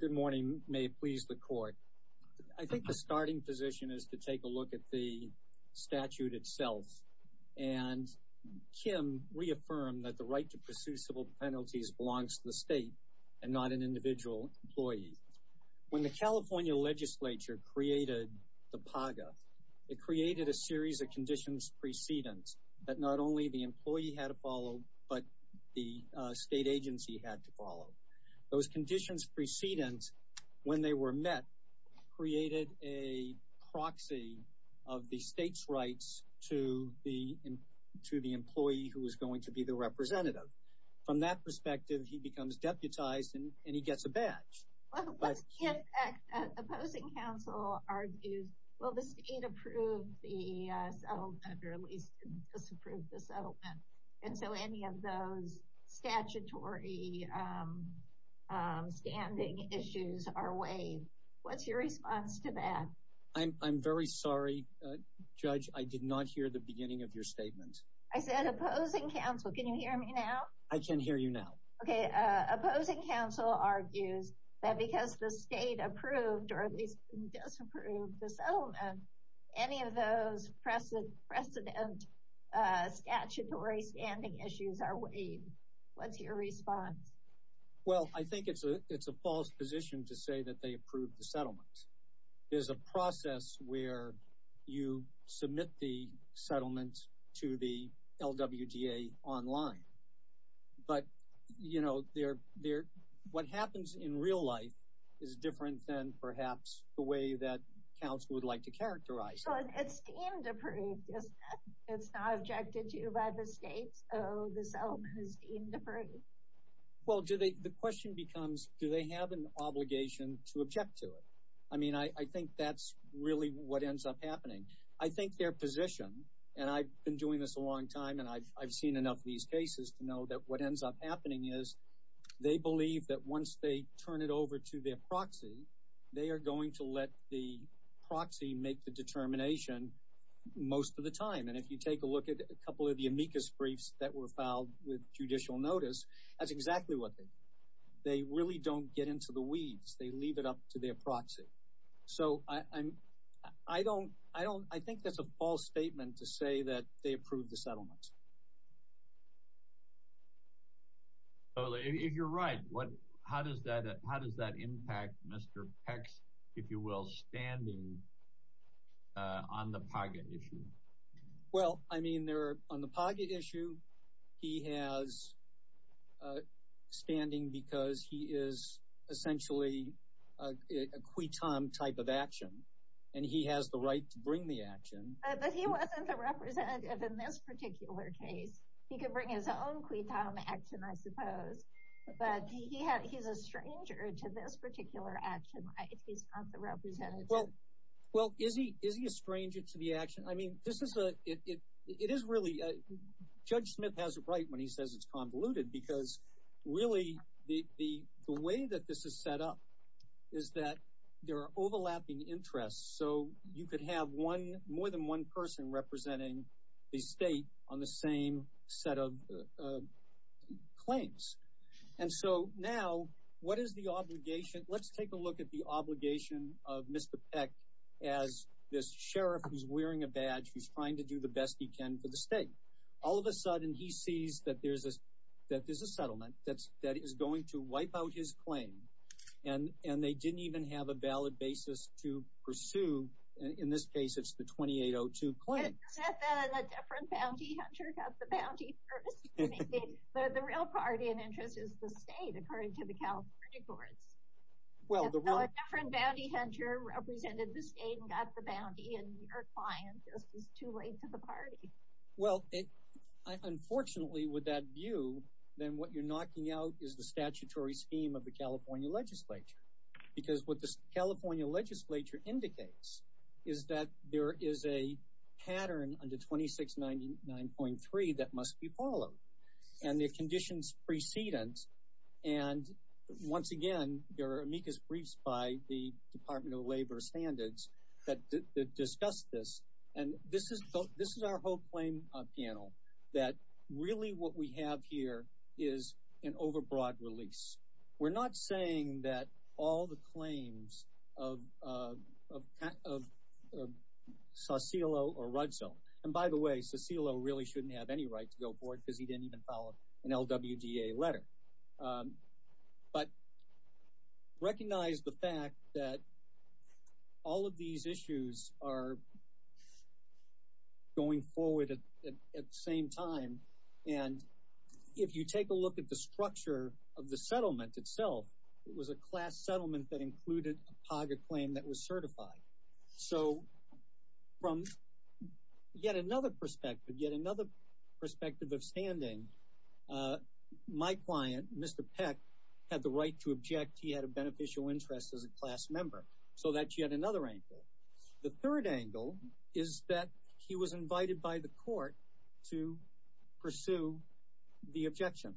Good morning. May it please the court. I think the starting position is to take a look at the statute itself and Kim reaffirmed that the right to pursue civil penalties belongs to the state and not an individual employee. When the California legislature created the PAGA, it created a series of conditions precedence that not only the employee had to follow but the state agency had to follow. Those conditions precedence, when they were met, created a proxy of the state's rights to the to the employee who was going to be the representative. From that perspective, he becomes deputized and he gets a badge. What if opposing counsel argues, well the state approved the settlement or at least disapproved the settlement, and so any of those statutory standing issues are waived. What's your response to that? I'm very sorry, Judge. I did not hear the beginning of your statement. I said opposing counsel. Can you hear me now? I can hear you now. Okay, opposing counsel argues that because the state approved or at least disapproved the settlement, any of those precedent precedent statutory standing issues are waived. What's your response? Well, I think it's a it's a false position to say that they approved the settlement. There's a process where you submit the settlement to the LWDA online, but you know they're what happens in real life is different than perhaps the way that counsel would like to characterize it. So it's deemed approved. It's not objected to by the state, so the settlement is deemed approved. Well, the question becomes, do they have an obligation to object to it? I mean, I think that's really what ends up happening. I think their position, and I've been doing this a long time and I've seen enough of these cases to know that what ends up happening is they believe that once they turn it over to their proxy, they are going to let the proxy make the determination most of the time. And if you take a look at a couple of the amicus briefs that were filed with judicial notice, that's exactly what they do. They really don't get into the weeds. They leave it up to their proxy. So I'm, I don't, I don't, I think that's a false statement to say that they approve the settlement. If you're right, what, how does that, how does that impact Mr. Peck's, if you will, standing on the PAGA issue? Well, I mean, they're on the PAGA issue. He has standing because he is essentially a quitam type of action, and he has the right to bring the action. But he wasn't a representative in this particular case. He could bring his own quitam action, I suppose. But he had, he's a stranger to this particular action. He's not the representative. Well, well, is he, is he a stranger to the action? I mean, this is a, it, it, it is really, Judge Smith has it right when he says it's convoluted, because really the, the, the way that this is set up is that there are overlapping interests. So you could have one, more than one person representing the state on the same set of claims. And so now what is the obligation? Let's take a look at the obligation of Mr. Peck as this sheriff who's wearing a badge, who's trying to do the best he can for the state. All of a sudden, he sees that there's a, that there's a settlement that's, that is going to wipe out his claim. And, and they didn't even have a valid basis to pursue. In this case, it's the 2802 claim. Except that a different bounty hunter got the bounty first. The real priority and interest is the state, according to the California courts. Except that a different bounty hunter represented the state and got the bounty, and your client is too late to the party. Well, it, unfortunately with that view, then what you're knocking out is the statutory scheme of the California legislature. Because what the California legislature indicates is that there is a pattern under 2699.3 that must be followed. And the conditions precedence, and once again, there are amicus briefs by the Department of Labor Standards that discuss this. And this is, this is our whole claim panel, that really what we have here is an overbroad release. We're not saying that all the claims of, of, of, of Saucillo or Rudso. And by the way, Saucillo really shouldn't have any right to go forward because he didn't even follow an LWDA letter. But recognize the fact that all of these issues are going forward at, at, at the same time. And if you take a look at the structure of the settlement itself, it was a class settlement that included a POG acclaim that was certified. So from yet another perspective, yet another perspective of standing, my client, Mr. Peck, had the right to object. He had a beneficial interest as a class member. So that's yet another angle. The third angle is that he was invited by the court to pursue the objection.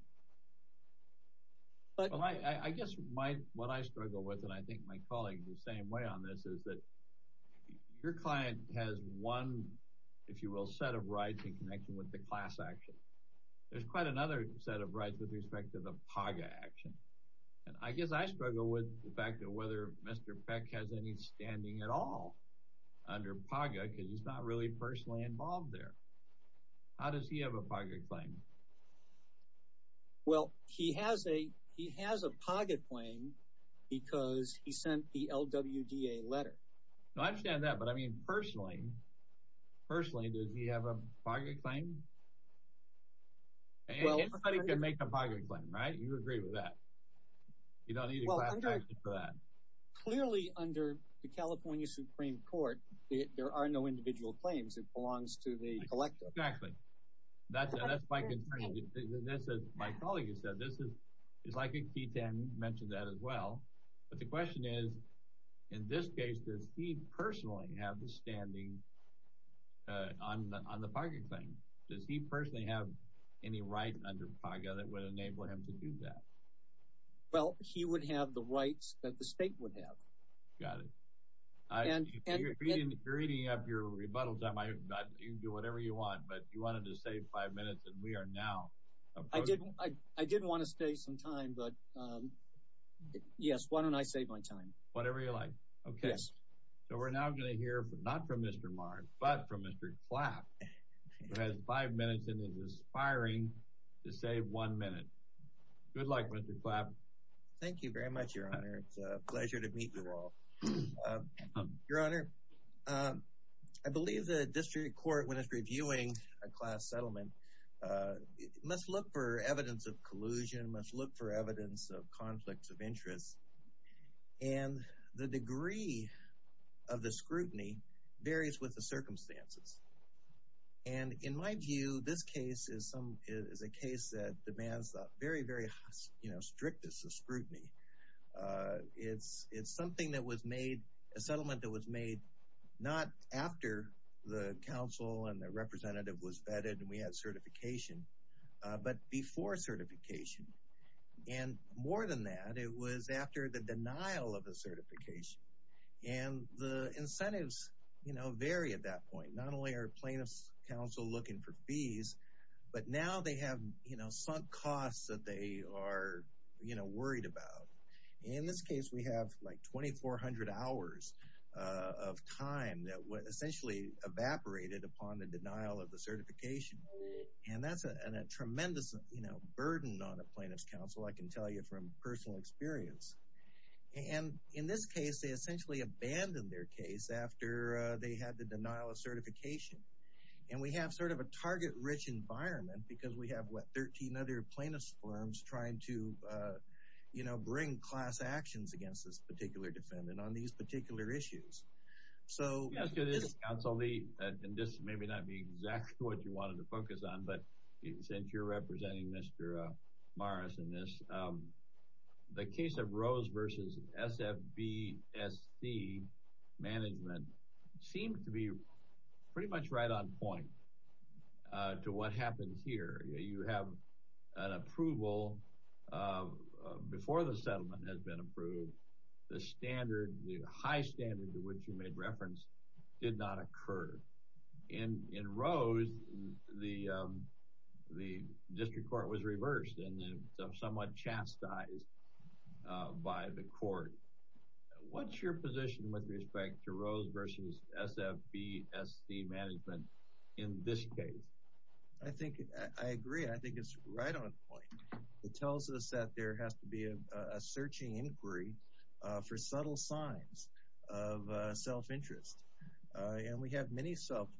I guess my, what I struggle with, and I think my colleagues the same way on this, is that your client has one, if you will, set of rights in connection with the class action. There's quite another set of rights with respect to the POG action. And I guess I struggle with the fact that whether Mr. Peck has any standing at all under POG, because he's not really personally involved there. How does he have a POG claim? Well, he has a, he has a POG acclaim because he sent the LWDA letter. No, I understand that, but I mean, personally, personally, does he have a POG acclaim? Well, Anybody can make a POG acclaim, right? You agree with that? You don't need a class action for that. Clearly, under the California Supreme Court, there are no individual claims. It belongs to the collective. Exactly. That's my concern. That's what my colleague has said. This is, it's like a key thing, you mentioned that as well. But the question is, in this case, does he personally have the standing on the POG acclaim? Does he personally have any right under POG that would enable him to do that? Well, he would have the rights that the state would have. Got it. If you're eating up your rebuttal time, you can do whatever you want, but you wanted to save five minutes, and we are now approving. I did want to save some time, but yes, why don't I save my time? Whatever you like. Yes. Okay, so we're now going to hear, not from Mr. Mars, but from Mr. Clapp, who has five minutes and is aspiring to save one minute. Good luck, Mr. Clapp. Thank you very much, Your Honor. It's a pleasure to meet you all. Your Honor, I believe the district court, when it's reviewing a class settlement, must look for evidence of collusion, must look for evidence of conflicts of interest. And the degree of the scrutiny varies with the circumstances. And in my view, this case is a case that demands very, very strict scrutiny. It's something that was made, a settlement that was made not after the counsel and the representative was vetted and we had certification, but before certification. And more than that, it was after the denial of the certification. And the incentives vary at that point. Not only are plaintiffs counsel looking for fees, but now they have sunk costs that they are worried about. In this case, we have like 2,400 hours of time that essentially evaporated upon the denial of the certification. And that's a tremendous burden on a plaintiff's counsel, I can tell you from personal experience. And in this case, they essentially abandoned their case after they had the denial of certification. And we have sort of a target-rich environment because we have, what, 13 other plaintiffs' firms trying to bring class actions against this particular defendant on these particular issues. Yes, it is, Counsel Lee. And this may not be exactly what you wanted to focus on, but since you're representing Mr. Morris in this, the case of Rose v. SFBSC management seemed to be pretty much right on point to what happened here. You have an approval before the settlement has been approved. The standard, the high standard to which you made reference did not occur. In Rose, the district court was reversed and somewhat chastised by the court. What's your position with respect to Rose v. SFBSC management in this case? I think I agree. I think it's right on point. It tells us that there has to be a searching inquiry for subtle signs of self-interest. And we have many subtle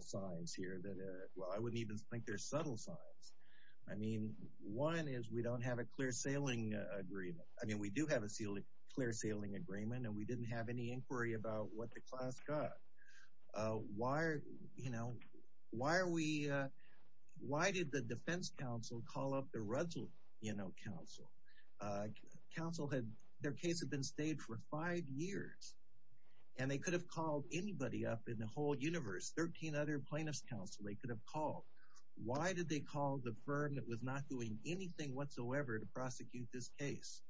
signs here that, well, I wouldn't even think they're subtle signs. I mean, one is we don't have a clear sailing agreement. I mean, we do have a clear sailing agreement, and we didn't have any inquiry about what the class got. Why, you know, why are we, why did the defense counsel call up the Russell, you know, counsel? Counsel had, their case had been staged for five years, and they could have called anybody up in the whole universe, 13 other plaintiffs' counsel they could have called. Why did they call the firm that was not doing anything whatsoever to prosecute this case?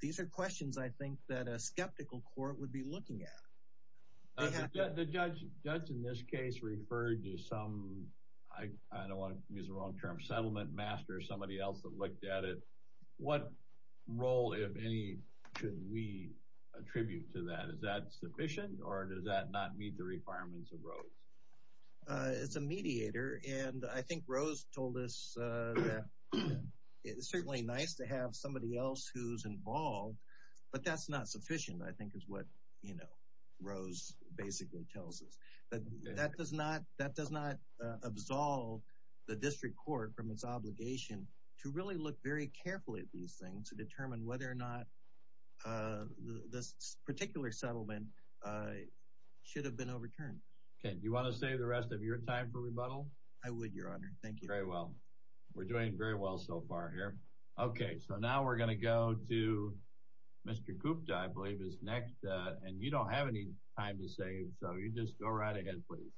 These are questions I think that a skeptical court would be looking at. The judge in this case referred to some, I don't want to use the wrong term, settlement master, somebody else that looked at it. What role, if any, should we attribute to that? Is that sufficient, or does that not meet the requirements of Rose? It's a mediator, and I think Rose told us that it's certainly nice to have somebody else who's involved, but that's not sufficient, I think is what, you know, Rose basically tells us. That does not, that does not absolve the district court from its obligation to really look very carefully at these things to determine whether or not this particular settlement should have been overturned. Okay, do you want to save the rest of your time for rebuttal? I would, Your Honor. Thank you. Very well. We're doing very well so far here. Okay, so now we're going to go to Mr. Gupta, I believe, is next. And you don't have any time to save, so you just go right ahead, please.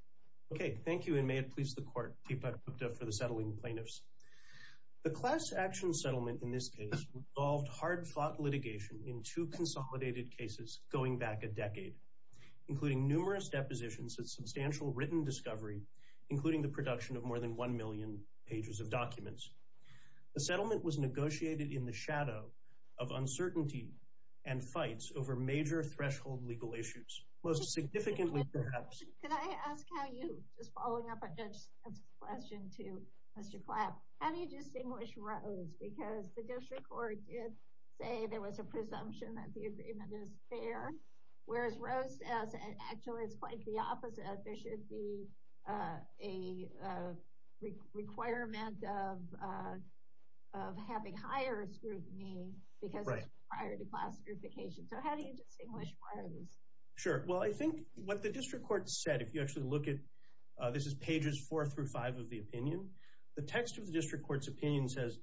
Okay, thank you, and may it please the Court, Deepak Gupta for the settling plaintiffs. The class action settlement in this case involved hard-fought litigation in two consolidated cases going back a decade, including numerous depositions and substantial written discovery, including the production of more than one million pages of documents. The settlement was negotiated in the shadow of uncertainty and fights over major threshold legal issues. Most significantly, perhaps. Could I ask how you, just following up on Judge Smith's question to Mr. Clapp, how do you distinguish Rose, because the district court did say there was a presumption that the agreement is fair, whereas Rose says actually it's quite the opposite. There should be a requirement of having higher scrutiny because it's prior to class certification. So how do you distinguish Rose? Sure. Well, I think what the district court said, if you actually look at – this is pages four through five of the opinion. The text of the district court's opinion says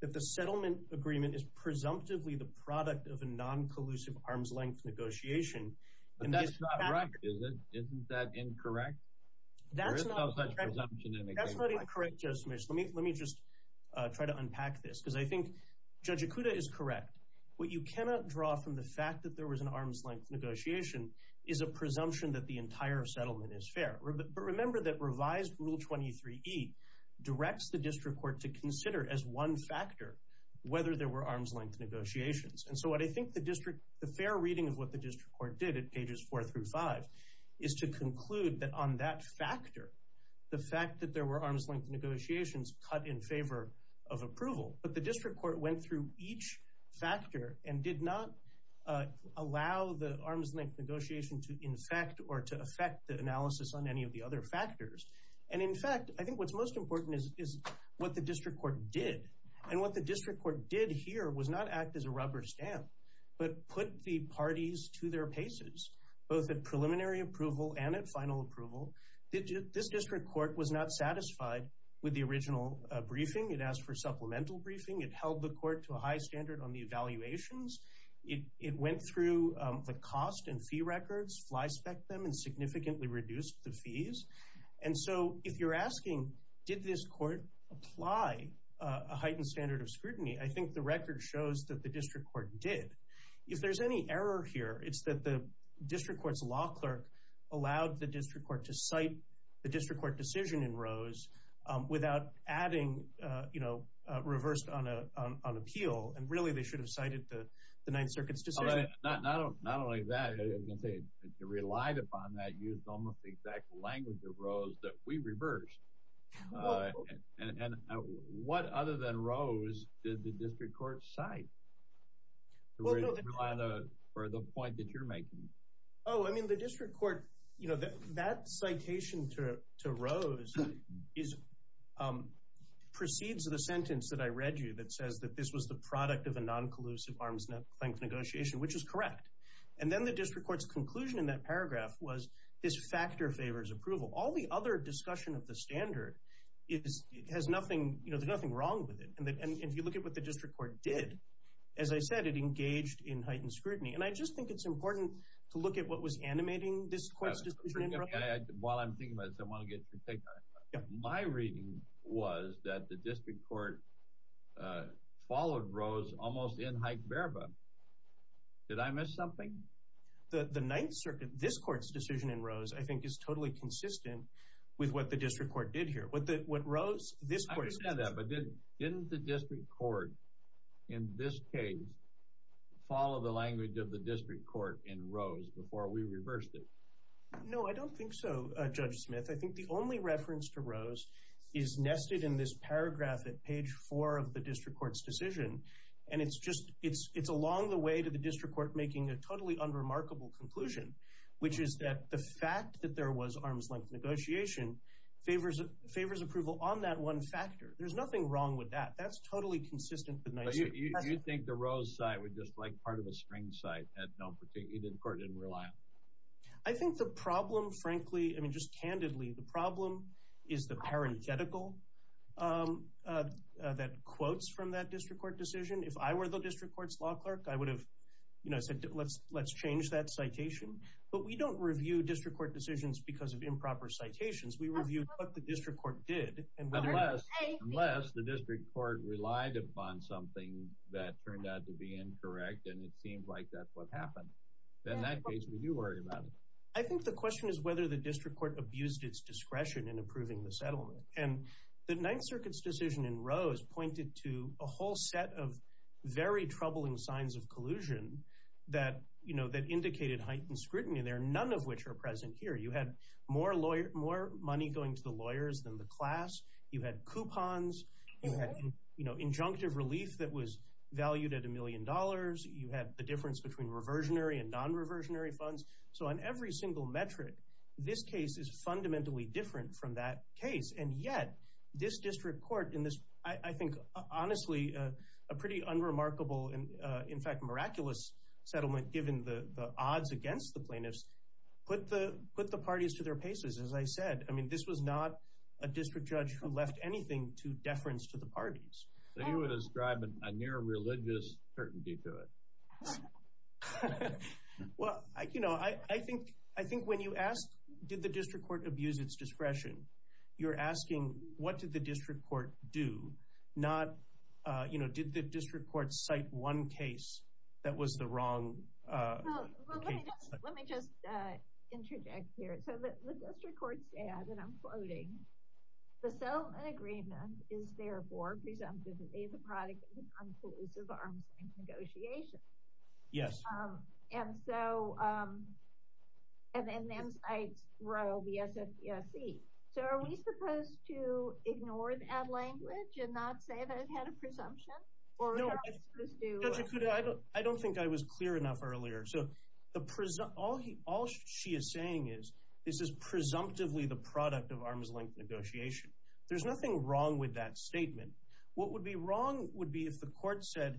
that the settlement agreement is presumptively the product of a non-collusive arm's-length negotiation. But that's not correct, is it? Isn't that incorrect? That's not correct, Judge Smith. Let me just try to unpack this because I think Judge Ikuda is correct. What you cannot draw from the fact that there was an arm's-length negotiation is a presumption that the entire settlement is fair. But remember that revised Rule 23e directs the district court to consider as one factor whether there were arm's-length negotiations. And so what I think the fair reading of what the district court did at pages four through five is to conclude that on that factor, the fact that there were arm's-length negotiations cut in favor of approval. But the district court went through each factor and did not allow the arm's-length negotiation to infect or to affect the analysis on any of the other factors. And in fact, I think what's most important is what the district court did. And what the district court did here was not act as a rubber stamp but put the parties to their paces, both at preliminary approval and at final approval. This district court was not satisfied with the original briefing. It asked for supplemental briefing. It held the court to a high standard on the evaluations. It went through the cost and fee records, fly-spec'ed them, and significantly reduced the fees. And so if you're asking, did this court apply a heightened standard of scrutiny? I think the record shows that the district court did. If there's any error here, it's that the district court's law clerk allowed the district court to cite the district court decision in Rose without adding, you know, reversed on appeal. And really, they should have cited the Ninth Circuit's decision. But not only that, you relied upon that, used almost the exact language of Rose that we reversed. And what other than Rose did the district court cite? Rely on the point that you're making. Oh, I mean, the district court, you know, that citation to Rose proceeds of the sentence that I read you that says that this was the product of a non-collusive arms-length negotiation, which is correct. And then the district court's conclusion in that paragraph was this factor favors approval. All the other discussion of the standard has nothing, you know, there's nothing wrong with it. And if you look at what the district court did, as I said, it engaged in heightened scrutiny. And I just think it's important to look at what was animating this court's decision in Rose. While I'm thinking about this, I want to get your take on it. My reading was that the district court followed Rose almost in hype verba. Did I miss something? The Ninth Circuit, this court's decision in Rose, I think, is totally consistent with what the district court did here. What Rose, this court's decision. I understand that, but didn't the district court in this case follow the language of the district court in Rose before we reversed it? No, I don't think so, Judge Smith. I think the only reference to Rose is nested in this paragraph at page 4 of the district court's decision. And it's along the way to the district court making a totally unremarkable conclusion, which is that the fact that there was arms-length negotiation favors approval on that one factor. There's nothing wrong with that. That's totally consistent with Ninth Circuit. You think the Rose side would just like part of a string side that the court didn't rely on? I think the problem, frankly, I mean, just candidly, the problem is the parenthetical that quotes from that district court decision. If I were the district court's law clerk, I would have said, let's change that citation. But we don't review district court decisions because of improper citations. We review what the district court did. Unless the district court relied upon something that turned out to be incorrect and it seemed like that's what happened. In that case, we do worry about it. I think the question is whether the district court abused its discretion in approving the settlement. And the Ninth Circuit's decision in Rose pointed to a whole set of very troubling signs of collusion that indicated heightened scrutiny there, none of which are present here. You had more money going to the lawyers than the class. You had coupons. You had injunctive relief that was valued at a million dollars. You had the difference between reversionary and non-reversionary funds. So on every single metric, this case is fundamentally different from that case. And yet this district court in this, I think, honestly, a pretty unremarkable, in fact, miraculous settlement, given the odds against the plaintiffs, put the parties to their paces. As I said, I mean, this was not a district judge who left anything to deference to the parties. He was driving a near religious certainty to it. Well, you know, I think when you ask did the district court abuse its discretion, you're asking what did the district court do, not did the district court cite one case that was the wrong case. Let me just interject here. So the district court said, and I'm quoting, the settlement agreement is therefore presumptively the product of non-collusive arms and negotiation. Yes. And so, and then I throw the SFPSC. So are we supposed to ignore that language and not say that it had a presumption? Judge Ikuto, I don't think I was clear enough earlier. So all she is saying is this is presumptively the product of arms-length negotiation. There's nothing wrong with that statement. What would be wrong would be if the court said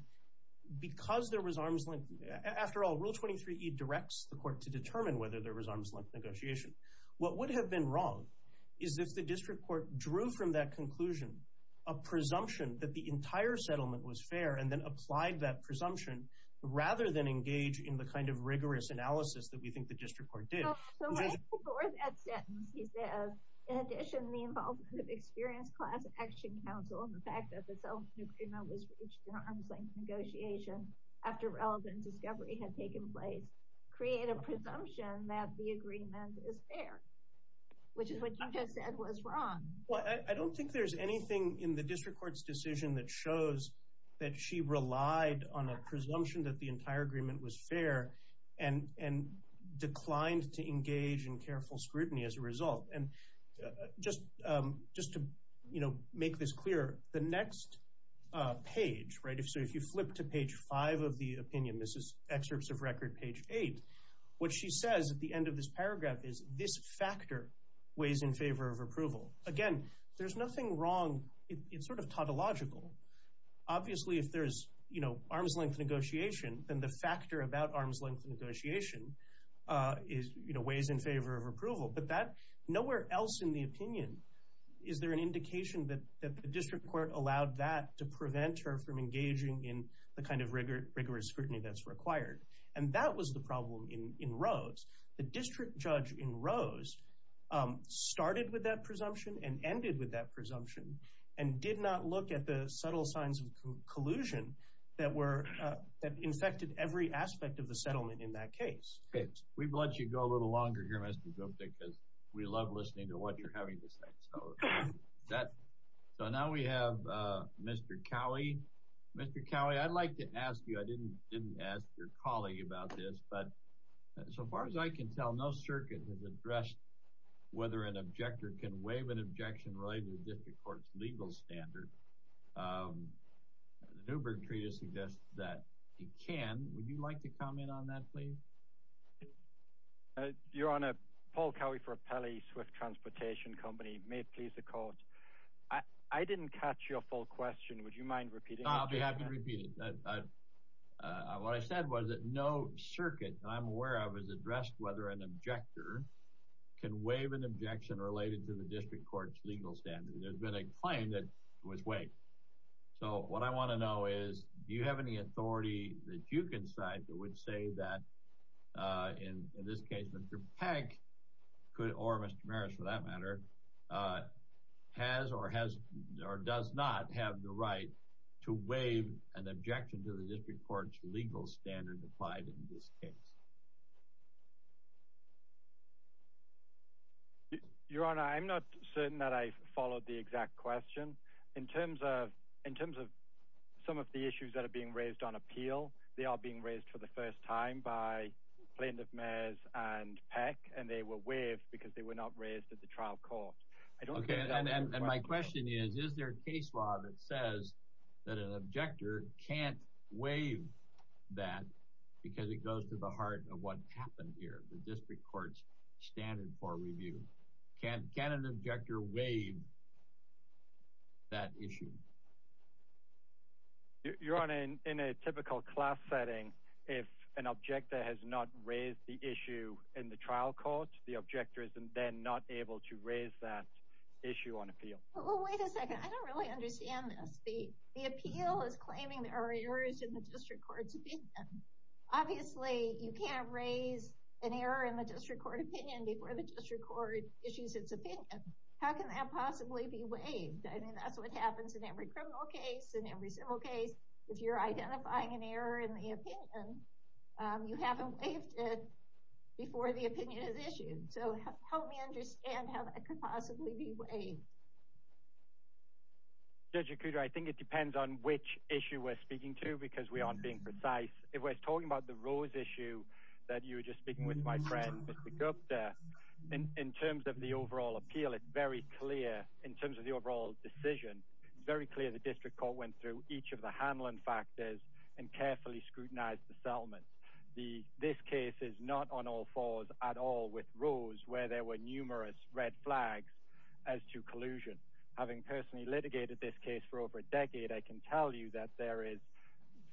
because there was arms-length, after all, Rule 23E directs the court to determine whether there was arms-length negotiation. What would have been wrong is if the district court drew from that conclusion a presumption that the entire settlement was fair and then applied that presumption rather than engage in the kind of rigorous analysis that we think the district court did. So right before that sentence, he says, in addition, the involvement of experienced class action counsel and the fact that the settlement agreement was reached in arms-length negotiation after relevant discovery had taken place create a presumption that the agreement is fair, which is what you just said was wrong. Well, I don't think there's anything in the district court's decision that shows that she relied on a presumption that the entire agreement was fair and declined to engage in careful scrutiny as a result. And just to make this clear, the next page, right, so if you flip to page 5 of the opinion, this is excerpts of record page 8, what she says at the end of this paragraph is this factor weighs in favor of approval. Again, there's nothing wrong. It's sort of tautological. Obviously, if there's arms-length negotiation, then the factor about arms-length negotiation weighs in favor of approval. But nowhere else in the opinion is there an indication that the district court allowed that to prevent her from engaging in the kind of rigorous scrutiny that's required. And that was the problem in Rose. The district judge in Rose started with that presumption and ended with that presumption and did not look at the subtle signs of collusion that infected every aspect of the settlement in that case. We've let you go a little longer here, Mr. Gupta, because we love listening to what you're having to say. So now we have Mr. Cowley. Mr. Cowley, I'd like to ask you, I didn't ask your colleague about this, but so far as I can tell, no circuit has addressed whether an objector can waive an objection related to the district court's legal standard. The Newberg Treatise suggests that he can. Would you like to comment on that, please? Your Honor, Paul Cowley for Appellee Swift Transportation Company. May it please the Court, I didn't catch your full question. Would you mind repeating it? I'll be happy to repeat it. What I said was that no circuit I'm aware of has addressed whether an objector can waive an objection related to the district court's legal standard. There's been a claim that it was waived. So what I want to know is, do you have any authority that you can cite that would say that, in this case, Mr. Peck, or Mr. Maris for that matter, has or does not have the right to waive an objection to the district court's legal standard applied in this case? Your Honor, I'm not certain that I followed the exact question. In terms of some of the issues that are being raised on appeal, they are being raised for the first time by plaintiff, Maris, and Peck, and they were waived because they were not raised at the trial court. And my question is, is there a case law that says that an objector can't waive that because it goes to the heart of what happened here, the district court's standard for review? Can an objector waive that issue? Your Honor, in a typical class setting, if an objector has not raised the issue in the trial court, the objector is then not able to raise that issue on appeal. Well, wait a second. I don't really understand this. The appeal is claiming there are errors in the district court's opinion. Obviously, you can't raise an error in the district court opinion before the district court issues its opinion. How can that possibly be waived? I mean, that's what happens in every criminal case, in every civil case. If you're identifying an error in the opinion, you haven't waived it before the opinion is issued. So help me understand how that could possibly be waived. Judge Okuda, I think it depends on which issue we're speaking to because we aren't being precise. If we're talking about the Rose issue that you were just speaking with my friend, Mr. Gupta, in terms of the overall appeal, it's very clear in terms of the overall decision. It's very clear the district court went through each of the handling factors and carefully scrutinized the settlement. This case is not on all fours at all with Rose where there were numerous red flags as to collusion. Having personally litigated this case for over a decade, I can tell you that there is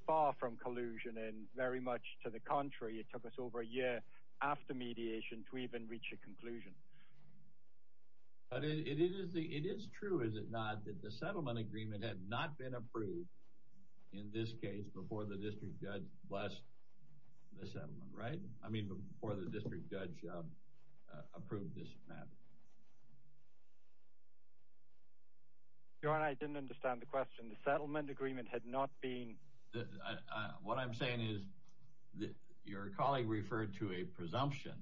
far from collusion and very much to the contrary. It took us over a year after mediation to even reach a conclusion. But it is true, is it not, that the settlement agreement had not been approved in this case before the district judge blessed the settlement, right? I mean, before the district judge approved this matter. Your Honor, I didn't understand the question. The settlement agreement had not been… What I'm saying is your colleague referred to a presumption,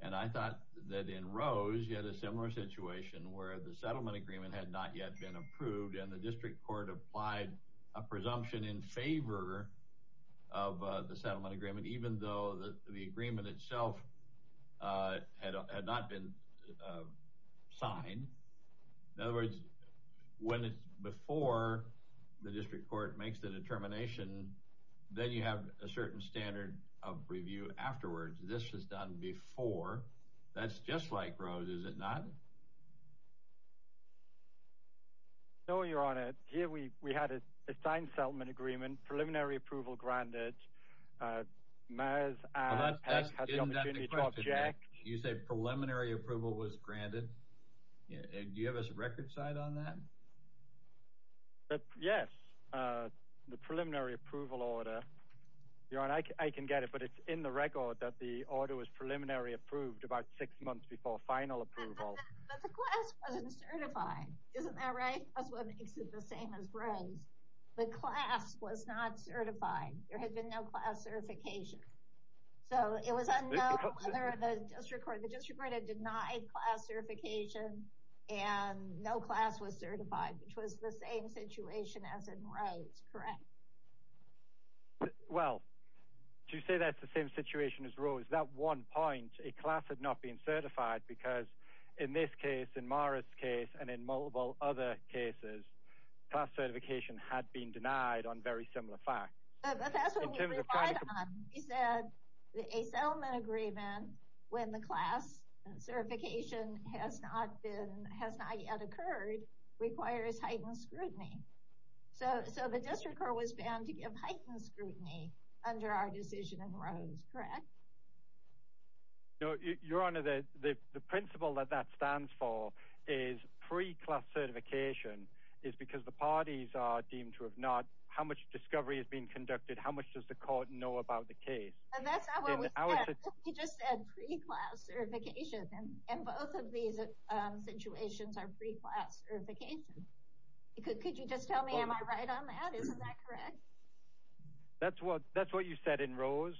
and I thought that in Rose you had a similar situation where the settlement agreement had not yet been approved and the district court applied a presumption in favor of the settlement agreement even though the agreement itself had not been signed. In other words, when it's before the district court makes the determination, then you have a certain standard of review afterwards. This was done before. That's just like Rose, is it not? No, Your Honor. Here we had a signed settlement agreement, preliminary approval granted. That's not the question. You said preliminary approval was granted. Do you have a record side on that? Yes, the preliminary approval order. Your Honor, I can get it, but it's in the record that the order was preliminary approved about six months before final approval. But the class wasn't certified. Isn't that right? That's what makes it the same as Rose. The class was not certified. There had been no class certification. So it was unknown whether the district court had denied class certification and no class was certified, which was the same situation as in Rose, correct? Well, to say that's the same situation as Rose, that one point, a class had not been certified because in this case, in Mara's case, and in multiple other cases, class certification had been denied on very similar facts. But that's what we relied on. We said a settlement agreement when the class certification has not yet occurred requires heightened scrutiny. So the district court was bound to give heightened scrutiny under our decision in Rose, correct? Your Honor, the principle that that stands for is pre-class certification is because the parties are deemed to have not, how much discovery has been conducted, how much does the court know about the case? That's not what we said. We just said pre-class certification, and both of these situations are pre-class certification. Could you just tell me am I right on that? Isn't that correct? That's what you said in Rose,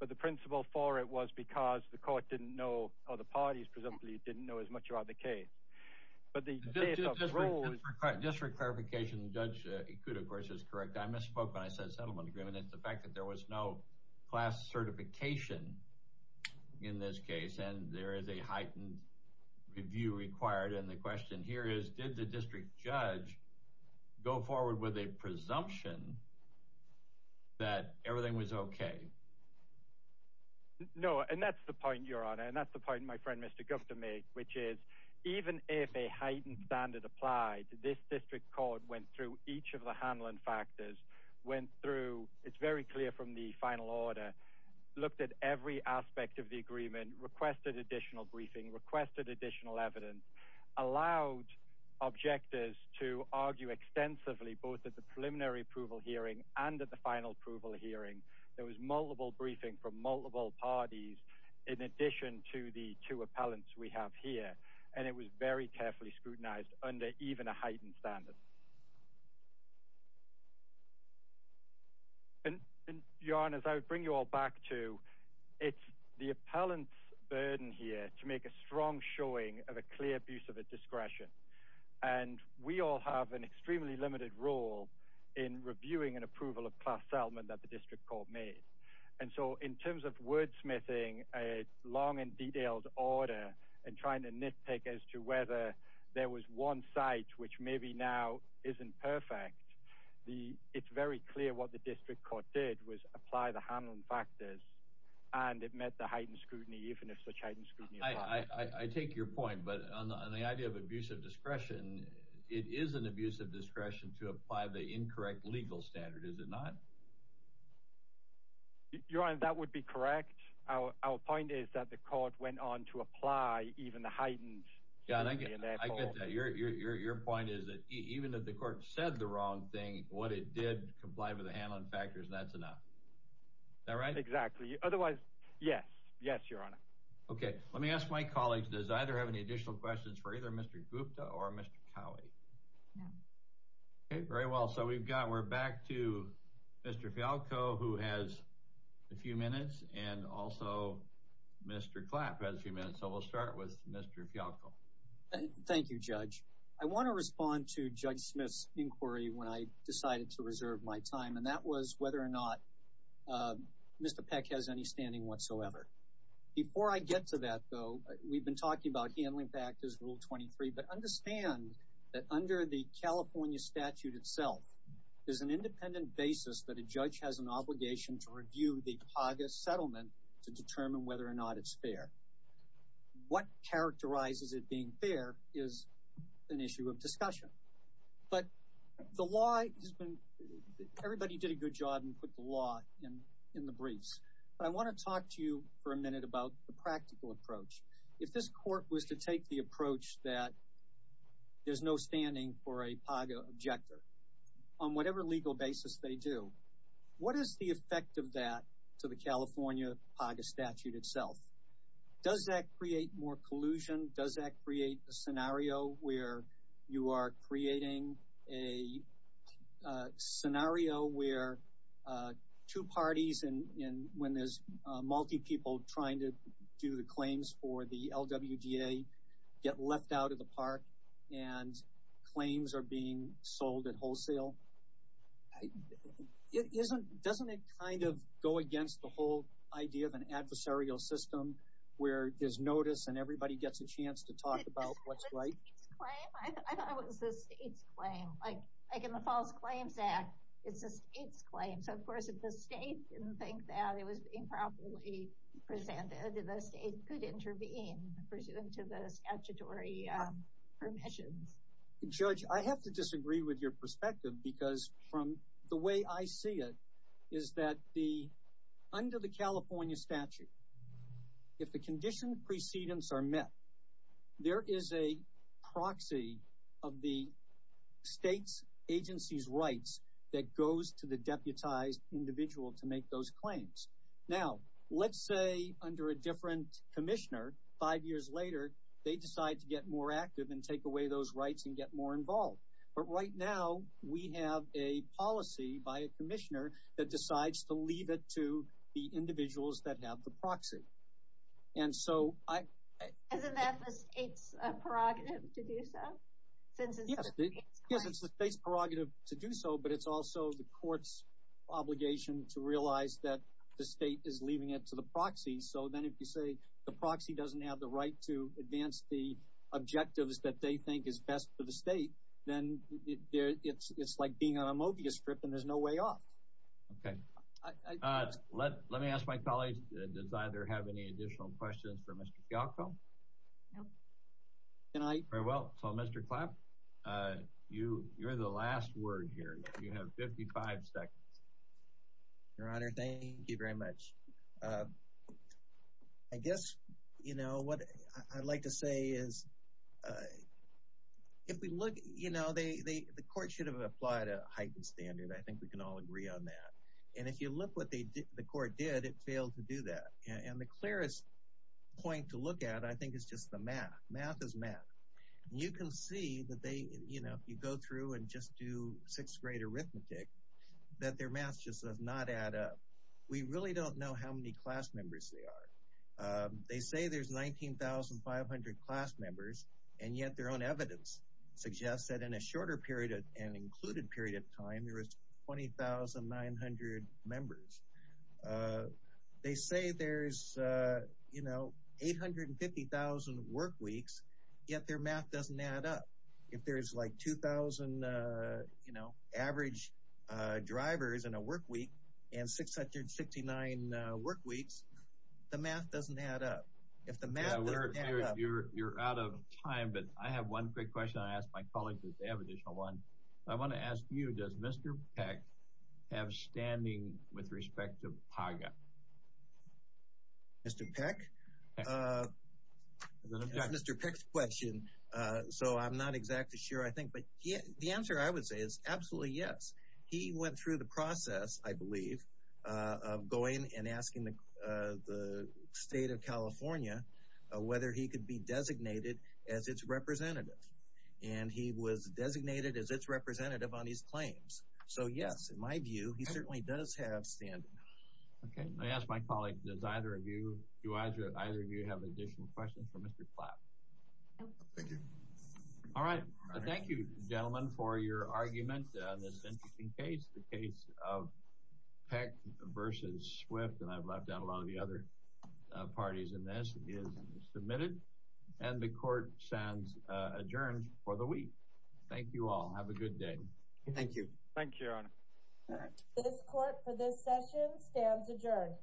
but the principle for it was because the court didn't know, or the parties presumably didn't know as much about the case. Just for clarification, Judge Ikuda, of course, is correct. I misspoke when I said settlement agreement. It's the fact that there was no class certification in this case, and there is a heightened review required. And the question here is, did the district judge go forward with a presumption that everything was okay? No, and that's the point, Your Honor, and that's the point my friend Mr. Gupta made, which is even if a heightened standard applied, this district court went through each of the handling factors, went through, it's very clear from the final order, looked at every aspect of the agreement, requested additional briefing, requested additional evidence, allowed objectors to argue extensively both at the preliminary approval hearing and at the final approval hearing. There was multiple briefing from multiple parties in addition to the two appellants we have here, and it was very carefully scrutinized under even a heightened standard. Your Honor, if I would bring you all back to, it's the appellant's burden here to make a strong showing of a clear abuse of a discretion, and we all have an extremely limited role in reviewing an approval of class settlement that the district court made. And so in terms of wordsmithing a long and detailed order and trying to nitpick as to whether there was one site which maybe now isn't perfect, it's very clear what the district court did was apply the handling factors, and it met the heightened scrutiny, even if such heightened scrutiny applied. I take your point, but on the idea of abuse of discretion, it is an abuse of discretion to apply the incorrect legal standard, is it not? Your Honor, that would be correct. Our point is that the court went on to apply even the heightened scrutiny. I get that. Your point is that even if the court said the wrong thing, what it did comply with the handling factors, and that's enough. Is that right? Exactly. Otherwise, yes. Yes, Your Honor. Okay. Let me ask my colleagues, does either have any additional questions for either Mr. Gupta or Mr. Cowie? No. Okay. Very well. So we've got, we're back to Mr. Fialkow, who has a few minutes, and also Mr. Clapp has a few minutes, so we'll start with Mr. Fialkow. Thank you, Judge. I want to respond to Judge Smith's inquiry when I decided to reserve my time, and that was whether or not Mr. Peck has any standing whatsoever. Before I get to that, though, we've been talking about handling factors, Rule 23, but understand that under the California statute itself, there's an independent basis that a judge has an obligation to review the HAGA settlement to determine whether or not it's fair. What characterizes it being fair is an issue of discussion, but the law has been, everybody did a good job and put the law in the briefs. But I want to talk to you for a minute about the practical approach. If this court was to take the approach that there's no standing for a HAGA objector, on whatever legal basis they do, what is the effect of that to the California HAGA statute itself? Does that create more collusion? Does that create a scenario where you are creating a scenario where two parties, and when there's multi-people trying to do the claims for the LWDA, get left out of the park and claims are being sold at wholesale? Doesn't it kind of go against the whole idea of an adversarial system where there's notice and everybody gets a chance to talk about what's right? I thought it was the state's claim. Like in the False Claims Act, it's the state's claim. So, of course, if the state didn't think that it was being properly presented, the state could intervene pursuant to the statutory permissions. Judge, I have to disagree with your perspective because from the way I see it is that under the California statute, if the condition precedents are met, there is a proxy of the state's agency's rights that goes to the deputized individual to make those claims. Now, let's say under a different commissioner, five years later, they decide to get more active and take away those rights and get more involved. But right now, we have a policy by a commissioner that decides to leave it to the individuals that have the proxy. Isn't that the state's prerogative to do so? Yes, it's the state's prerogative to do so, but it's also the court's obligation to realize that the state is leaving it to the proxy. So then if you say the proxy doesn't have the right to advance the objectives that they think is best for the state, then it's like being on a Mobius strip and there's no way off. Okay. Let me ask my colleague, does either have any additional questions for Mr. Fialkow? No. Very well. So, Mr. Clapp, you're the last word here. You have 55 seconds. Your Honor, thank you very much. I guess what I'd like to say is the court should have applied a heightened standard. I think we can all agree on that. And if you look what the court did, it failed to do that. And the clearest point to look at, I think, is just the math. Math is math. And you can see that they, you know, if you go through and just do sixth grade arithmetic, that their math just does not add up. We really don't know how many class members they are. They say there's 19,500 class members, and yet their own evidence suggests that in a shorter period and included period of time, there is 20,900 members. They say there's, you know, 850,000 work weeks, yet their math doesn't add up. If there's, like, 2,000, you know, average drivers in a work week and 669 work weeks, the math doesn't add up. If the math doesn't add up. You're out of time, but I have one quick question I ask my colleagues if they have an additional one. I want to ask you, does Mr. Peck have standing with respect to PAGA? Mr. Peck? I've got Mr. Peck's question, so I'm not exactly sure, I think. But the answer I would say is absolutely yes. He went through the process, I believe, of going and asking the state of California whether he could be designated as its representative. And he was designated as its representative on his claims. So, yes, in my view, he certainly does have standing. Okay. I ask my colleague, does either of you, do either of you have additional questions for Mr. Platt? No. Thank you. All right. Thank you, gentlemen, for your argument on this interesting case. The case of Peck versus Swift, and I've left out a lot of the other parties in this, is submitted. And the court stands adjourned for the week. Thank you all. Have a good day. Thank you. Thank you, Your Honor. This court for this session stands adjourned.